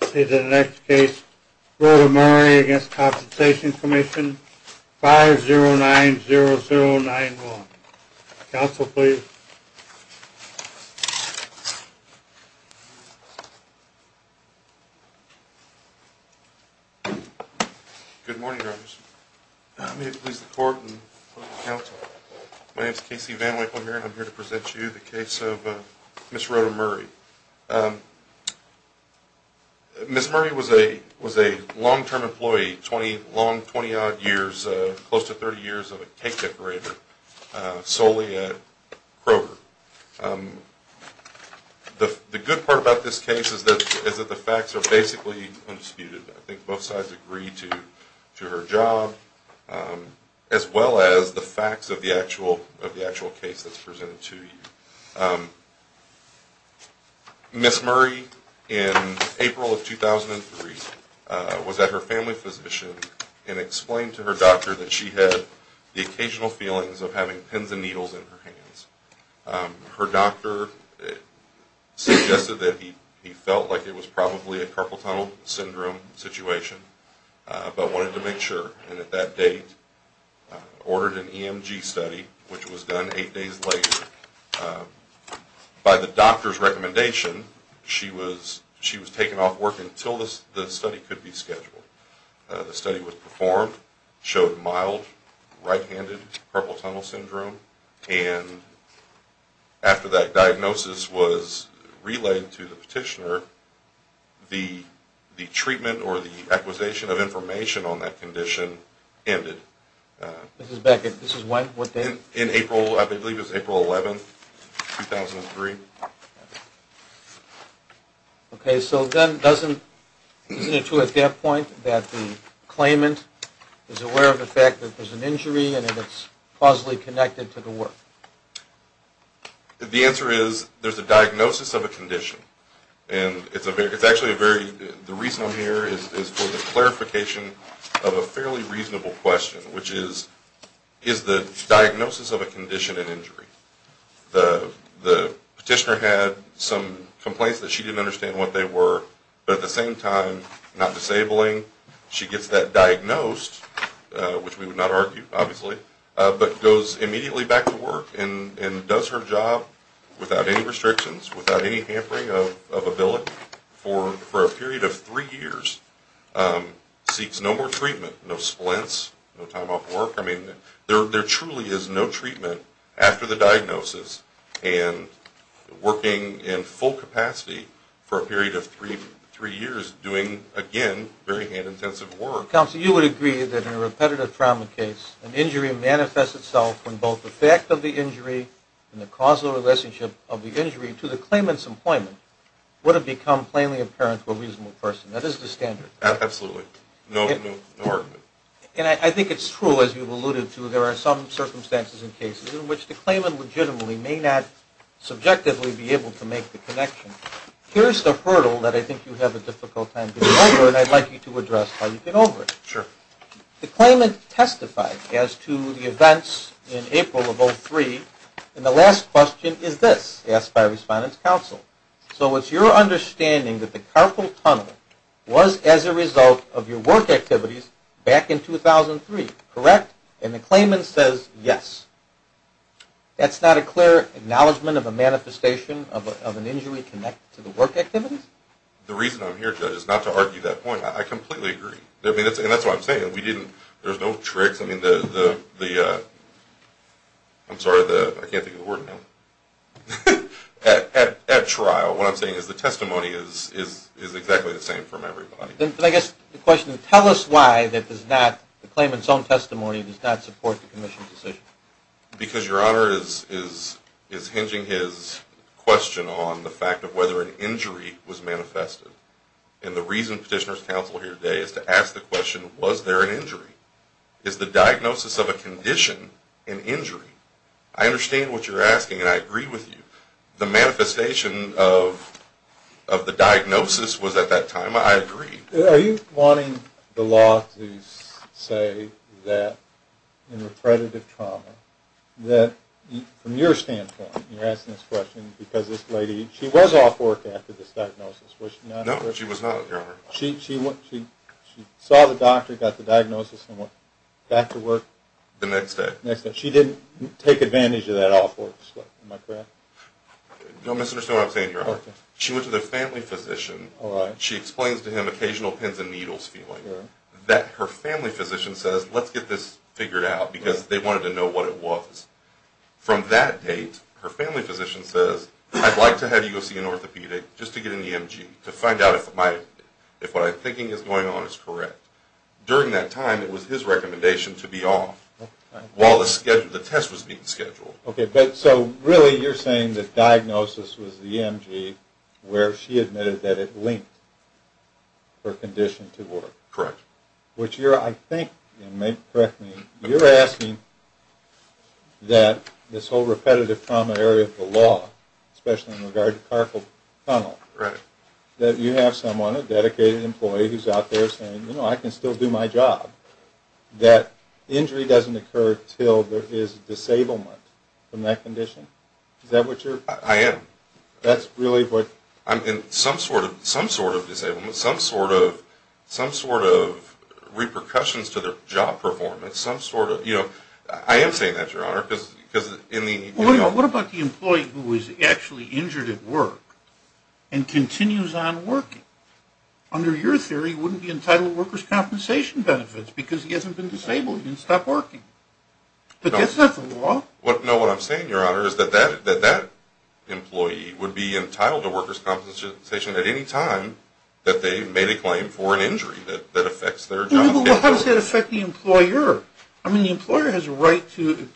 The next case, Rhoda Murray v. Compensation Comm'n, 5090091. Counsel, please. Good morning, Your Honors. May it please the Court and the Counsel. My name is K.C. VanWyke. I'm here to present you the case of Ms. Rhoda Murray. Ms. Murray was a long-term employee, 20 odd years, close to 30 years of a cake decorator, solely at Kroger. The good part about this case is that the facts are basically undisputed. I think both sides agree to her job, as well as the facts of the actual case that's presented to you. Ms. Murray, in April of 2003, was at her family physician and explained to her doctor that she had the occasional feelings of having pins and needles in her hands. Her doctor suggested that he felt like it was probably a carpal tunnel syndrome situation, but wanted to make sure. And at that date, ordered an EMG study, which was done 8 days later. By the doctor's recommendation, she was taken off work until the study could be scheduled. The study was performed, showed mild, right-handed carpal tunnel syndrome. And after that diagnosis was relayed to the petitioner, the treatment or the acquisition of information on that condition ended. This is back in, this is when, what date? In April, I believe it was April 11, 2003. Okay, so then doesn't, isn't it true at that point that the claimant is aware of the fact that there's an injury and that it's causally connected to the work? The answer is, there's a diagnosis of a condition. And it's actually a very, the reason I'm here is for the clarification of a fairly reasonable question, which is, is the diagnosis of a condition an injury? The petitioner had some complaints that she didn't understand what they were, but at the same time, not disabling, she gets that diagnosed, which we would not argue, obviously, but goes immediately back to work and does her job without any restrictions, without any hampering of ability, for a period of 3 years, seeks no more treatment, no splints, no time off work. I mean, there truly is no treatment after the diagnosis and working in full capacity for a period of 3 years doing, again, very hand-intensive work. Counsel, you would agree that in a repetitive trauma case, an injury manifests itself when both the fact of the injury and the causal relationship of the injury to the claimant's employment would have become plainly apparent to a reasonable person. That is the standard. Absolutely. No argument. And I think it's true, as you've alluded to, there are some circumstances and cases in which the claimant legitimately may not subjectively be able to make the connection. Here's the hurdle that I think you have a difficult time getting over, and I'd like you to address how you get over it. Sure. The claimant testified as to the events in April of 03, and the last question is this, asked by Respondent's Counsel. So it's your understanding that the carpal tunnel was as a result of your work activities back in 2003, correct? And the claimant says yes. That's not a clear acknowledgment of a manifestation of an injury connected to the work activities? The reason I'm here, Judge, is not to argue that point. I completely agree. And that's what I'm saying. There's no tricks. I'm sorry, I can't think of the word now. At trial, what I'm saying is the testimony is exactly the same from everybody. I guess the question is, tell us why the claimant's own testimony does not support the commission's decision. Because Your Honor is hinging his question on the fact of whether an injury was manifested. And the reason Petitioner's Counsel is here today is to ask the question, was there an injury? Is the diagnosis of a condition an injury? I understand what you're asking, and I agree with you. The manifestation of the diagnosis was at that time. I agree. Are you wanting the law to say that in repredative trauma, that from your standpoint, you're asking this question because this lady, she was off work after this diagnosis, was she not? No, she was not, Your Honor. She saw the doctor, got the diagnosis, and went back to work? The next day. The next day. She didn't take advantage of that off work slip, am I correct? Don't misunderstand what I'm saying, Your Honor. She went to the family physician. She explains to him occasional pins and needles feeling. Her family physician says, let's get this figured out, because they wanted to know what it was. From that date, her family physician says, I'd like to have you go see an orthopedic just to get an EMG to find out if what I'm thinking is going on is correct. During that time, it was his recommendation to be off while the test was being scheduled. Okay, so really you're saying the diagnosis was the EMG where she admitted that it linked her condition to work. Correct. Which you're, I think, you may correct me, you're asking that this whole repetitive trauma area of the law, especially in regard to carpool tunnel, that you have someone, a dedicated employee who's out there saying, you know, I can still do my job, that injury doesn't occur until there is disablement from that condition? Is that what you're? I am. That's really what? I mean, some sort of disablement, some sort of repercussions to their job performance, some sort of, you know, I am saying that, Your Honor, because in the. Well, what about the employee who is actually injured at work and continues on working? Under your theory, he wouldn't be entitled to workers' compensation benefits because he hasn't been disabled, he didn't stop working. But that's not the law. No, what I'm saying, Your Honor, is that that employee would be entitled to workers' compensation at any time that they made a claim for an injury that affects their job. Well, how does that affect the employer? I mean, the employer has a right to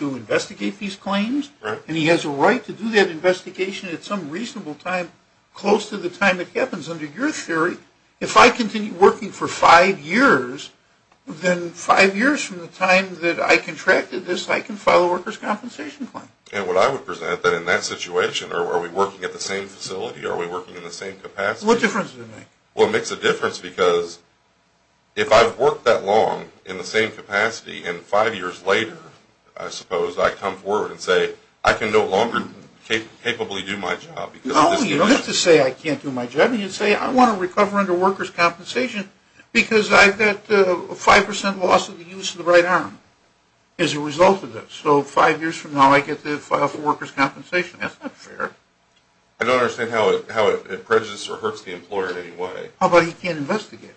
investigate these claims. Right. And he has a right to do that investigation at some reasonable time, close to the time it happens. Under your theory, if I continue working for five years, then five years from the time that I contracted this, I can file a workers' compensation claim. And what I would present, that in that situation, are we working at the same facility, are we working in the same capacity? What difference does it make? Well, it makes a difference because if I've worked that long in the same capacity and five years later, I suppose, I come forward and say, I can no longer capably do my job. No, you don't have to say, I can't do my job. You can say, I want to recover under workers' compensation because I've got 5% loss of the use of the right arm as a result of this. So five years from now, I get to file for workers' compensation. That's not fair. I don't understand how it prejudices or hurts the employer in any way. How about he can't investigate?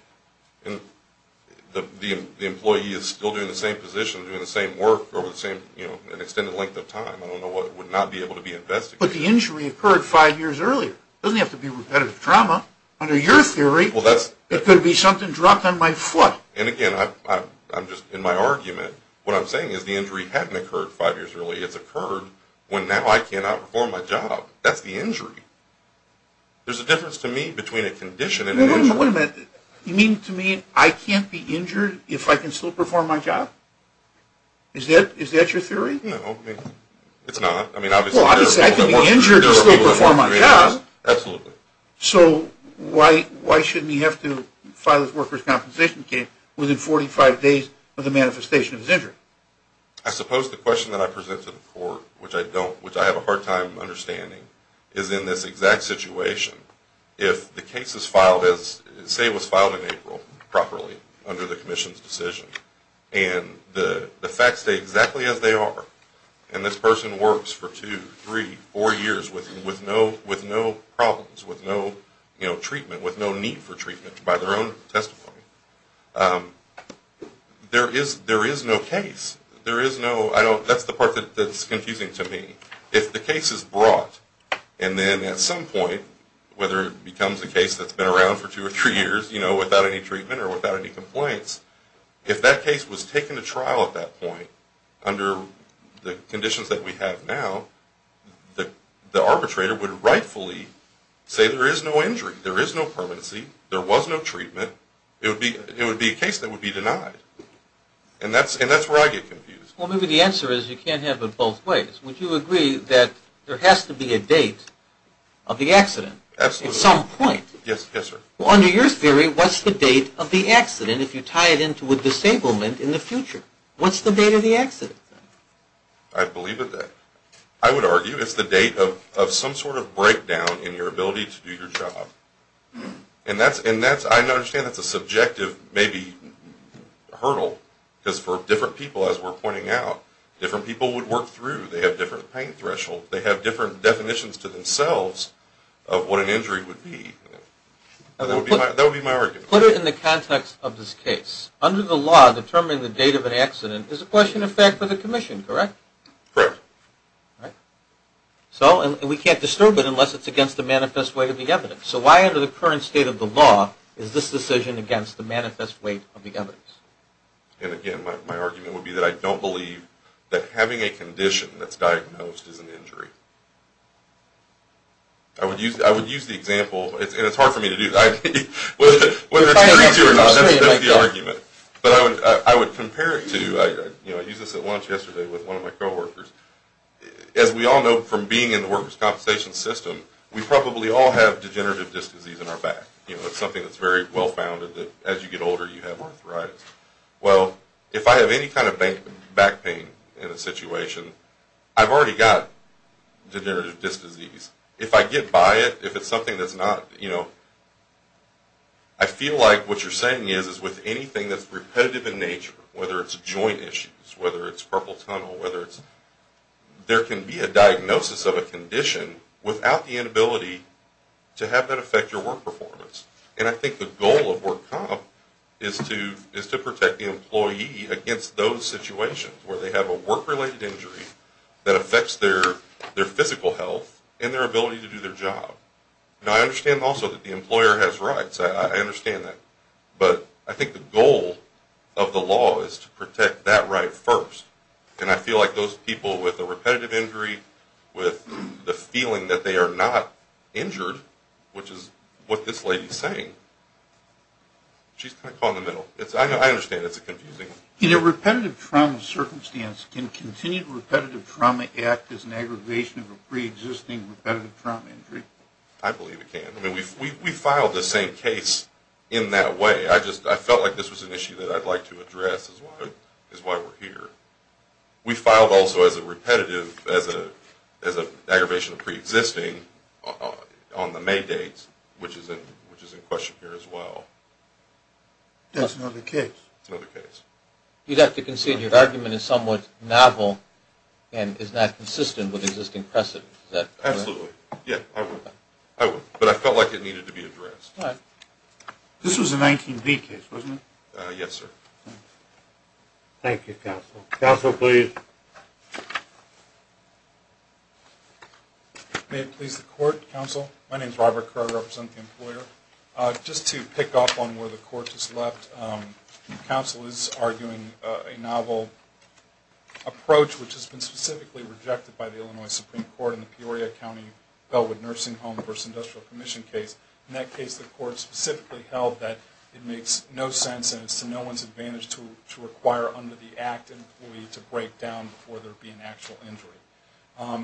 The employee is still doing the same position, doing the same work over an extended length of time. I don't know what would not be able to be investigated. But the injury occurred five years earlier. It doesn't have to be repetitive trauma. Under your theory, it could be something dropped on my foot. And again, I'm just in my argument. What I'm saying is the injury hadn't occurred five years earlier. It's occurred when now I cannot perform my job. That's the injury. There's a difference to me between a condition and an injury. Wait a minute. You mean to me I can't be injured if I can still perform my job? Is that your theory? No. It's not. Well, obviously, I can be injured to still perform my job. Absolutely. So why shouldn't he have to file his workers' compensation case within 45 days of the manifestation of his injury? I suppose the question that I present to the court, which I have a hard time understanding, is in this exact situation, if the case was filed in April properly under the commission's decision and the facts stay exactly as they are, and this person works for two, three, four years with no problems, with no treatment, with no need for treatment by their own testimony, there is no case. That's the part that's confusing to me. If the case is brought and then at some point, whether it becomes a case that's been around for two or three years without any treatment or without any complaints, if that case was taken to trial at that point under the conditions that we have now, the arbitrator would rightfully say there is no injury, there is no permanency, there was no treatment, it would be a case that would be denied. And that's where I get confused. Well, maybe the answer is you can't have it both ways. Would you agree that there has to be a date of the accident at some point? Yes, sir. Well, under your theory, what's the date of the accident if you tie it into a disablement in the future? What's the date of the accident? I believe that I would argue it's the date of some sort of breakdown in your ability to do your job. And I understand that's a subjective maybe hurdle, because for different people, as we're pointing out, different people would work through. They have different pain thresholds. They have different definitions to themselves of what an injury would be. That would be my argument. Put it in the context of this case. Under the law, determining the date of an accident is a question of fact for the commission, correct? Correct. All right. So, and we can't disturb it unless it's against the manifest weight of the evidence. So why under the current state of the law is this decision against the manifest weight of the evidence? And again, my argument would be that I don't believe that having a condition that's diagnosed is an injury. I would use the example, and it's hard for me to do. Whether it's true or not, that's the argument. But I would compare it to, you know, I used this at lunch yesterday with one of my coworkers. As we all know from being in the workers' compensation system, we probably all have degenerative disc disease in our back. You know, it's something that's very well-founded that as you get older you have arthritis. Well, if I have any kind of back pain in a situation, I've already got degenerative disc disease. If I get by it, if it's something that's not, you know, I feel like what you're saying is, is with anything that's repetitive in nature, whether it's joint issues, whether it's purple tunnel, whether it's, there can be a diagnosis of a condition without the inability to have that affect your work performance. And I think the goal of work comp is to protect the employee against those situations where they have a work-related injury that affects their physical health and their ability to do their job. Now, I understand also that the employer has rights. I understand that. But I think the goal of the law is to protect that right first. And I feel like those people with a repetitive injury, with the feeling that they are not injured, which is what this lady's saying, she's kind of caught in the middle. I understand it's confusing. In a repetitive trauma circumstance, can continued repetitive trauma act as an aggravation of a preexisting repetitive trauma injury? I believe it can. I mean, we filed the same case in that way. I just felt like this was an issue that I'd like to address is why we're here. We filed also as a repetitive, as an aggravation of preexisting on the May date, which is in question here as well. That's another case. That's another case. You'd have to concede your argument is somewhat novel and is not consistent with existing precedent. Absolutely. Yeah, I would. But I felt like it needed to be addressed. This was a 19-B case, wasn't it? Yes, sir. Thank you, counsel. Counsel, please. May it please the court, counsel? My name is Robert Crowe. I represent the employer. Just to pick up on where the court has left, counsel is arguing a novel approach which has been specifically rejected by the Illinois Supreme Court in the Peoria County Bellwood Nursing Home v. Industrial Commission case. In that case, the court specifically held that it makes no sense and it's to no one's advantage to require under the act an employee to break down before there would be an actual injury.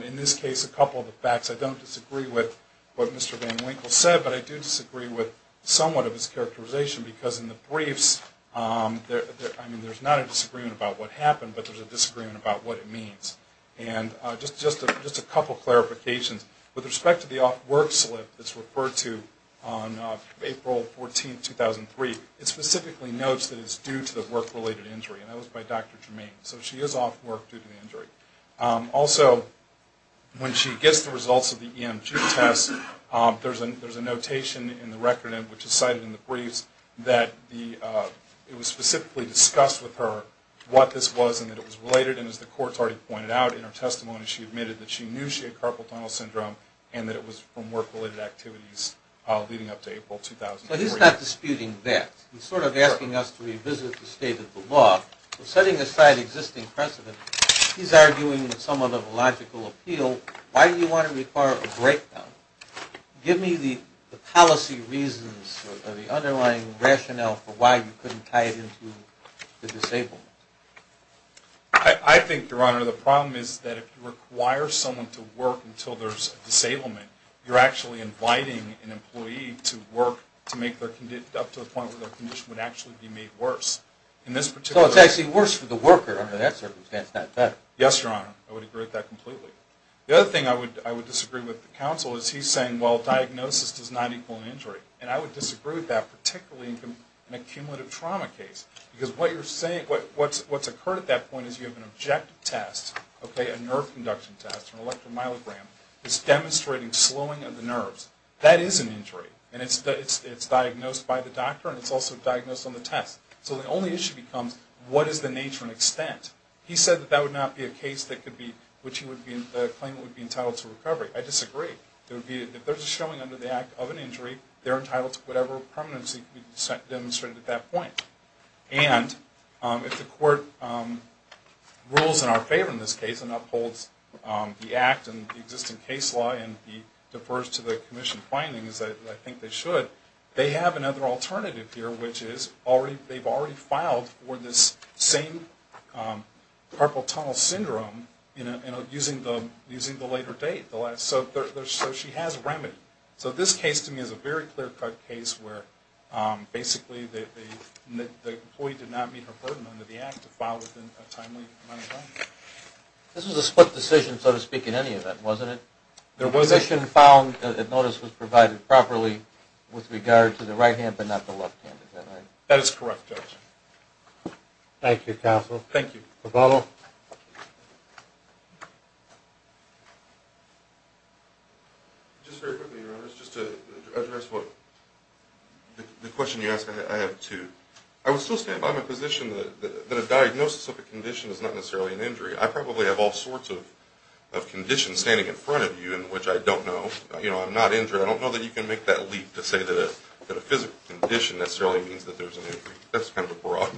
In this case, a couple of the facts. I don't disagree with what Mr. Van Winkle said, but I do disagree with somewhat of his characterization because in the briefs, I mean, there's not a disagreement about what happened, but there's a disagreement about what it means. And just a couple of clarifications. With respect to the off-work slip that's referred to on April 14, 2003, it specifically notes that it's due to the work-related injury, and that was by Dr. Germain. So she is off work due to the injury. Also, when she gets the results of the EMG test, there's a notation in the record, which is cited in the briefs, that it was specifically discussed with her what this was and that it was related. And as the court's already pointed out in her testimony, she admitted that she knew she had carpal tunnel syndrome and that it was from work-related activities leading up to April 2003. So he's not disputing that. He's sort of asking us to revisit the state of the law. Setting aside existing precedent, he's arguing with somewhat of a logical appeal, why do you want to require a breakdown? Give me the policy reasons or the underlying rationale for why you couldn't tie it into the disablement. I think, Your Honor, the problem is that if you require someone to work until there's a disablement, you're actually inviting an employee to work up to the point where their condition would actually be made worse. So it's actually worse for the worker under that circumstance, not better. Yes, Your Honor. I would agree with that completely. The other thing I would disagree with the counsel is he's saying, well, diagnosis does not equal injury. And I would disagree with that, particularly in a cumulative trauma case. Because what you're saying, what's occurred at that point is you have an objective test, okay, a nerve conduction test, an electromyogram, is demonstrating slowing of the nerves. That is an injury. And it's diagnosed by the doctor and it's also diagnosed on the test. So the only issue becomes, what is the nature and extent? He said that that would not be a case that could be, which he would claim would be entitled to recovery. I disagree. If there's a showing under the act of an injury, they're entitled to whatever permanency can be demonstrated at that point. And if the court rules in our favor in this case and upholds the act and the existing case law and defers to the commission findings, I think they should, they have another alternative here, which is they've already filed for this same carpal tunnel syndrome using the later date. So she has a remedy. So this case to me is a very clear-cut case where, basically, the employee did not meet her burden under the act to file within a timely amount of time. This was a split decision, so to speak, in any event, wasn't it? There was a decision found that notice was provided properly with regard to the right hand but not the left hand, is that right? That is correct, Judge. Thank you, counsel. Thank you. Roboto. Just very quickly, Your Honors, just to address the question you asked, I have two. I would still stand by my position that a diagnosis of a condition is not necessarily an injury. I probably have all sorts of conditions standing in front of you in which I don't know. I'm not injured. I don't know that you can make that leap to say that a physical condition necessarily means that there's an injury. That's kind of a broad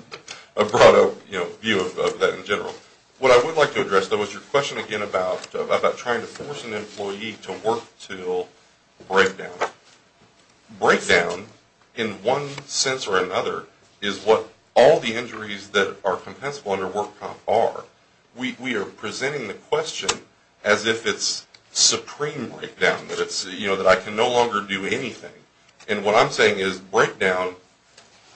view of that in general. What I would like to address, though, is your question again about trying to force an employee to work until breakdown. Breakdown, in one sense or another, is what all the injuries that are compensable under work comp are. We are presenting the question as if it's supreme breakdown, that I can no longer do anything. And what I'm saying is breakdown,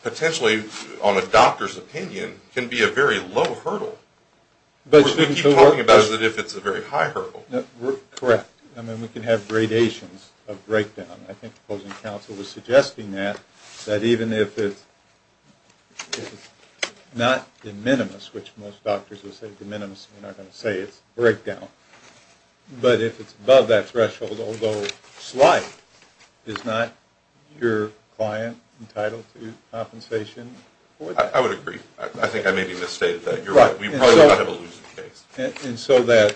potentially on a doctor's opinion, can be a very low hurdle. We keep talking about it as if it's a very high hurdle. Correct. I mean, we can have gradations of breakdown. I think the opposing counsel was suggesting that, that even if it's not de minimis, which most doctors would say de minimis, we're not going to say it's breakdown, but if it's above that threshold, although slight, is not your client entitled to compensation for that? I would agree. I think I maybe misstated that. You're right. We probably would not have a losing case. And so that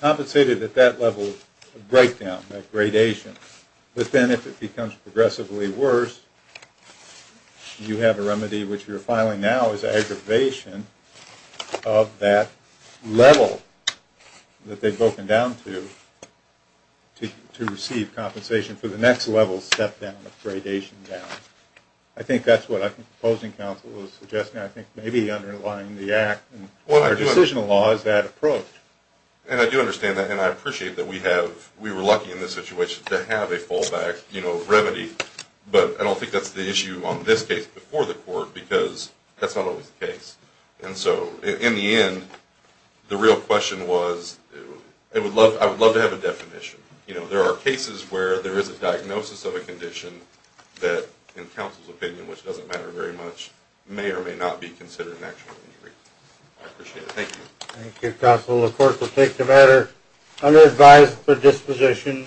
compensated at that level of breakdown, that gradation, but then if it becomes progressively worse, you have a remedy which you're filing now is aggravation of that level that they've broken down to, to receive compensation for the next level step down, gradation down. I think that's what I think the opposing counsel was suggesting. I think maybe underlying the act and our decisional law is that approach. And I do understand that, and I appreciate that we have, we were lucky in this situation to have a fallback, you know, remedy. But I don't think that's the issue on this case before the court, because that's not always the case. And so in the end, the real question was, I would love to have a definition. You know, there are cases where there is a diagnosis of a condition that, in counsel's opinion, which doesn't matter very much, may or may not be considered an actual injury. I appreciate it. Thank you. Thank you, counsel. The court will take the matter under advised for disposition.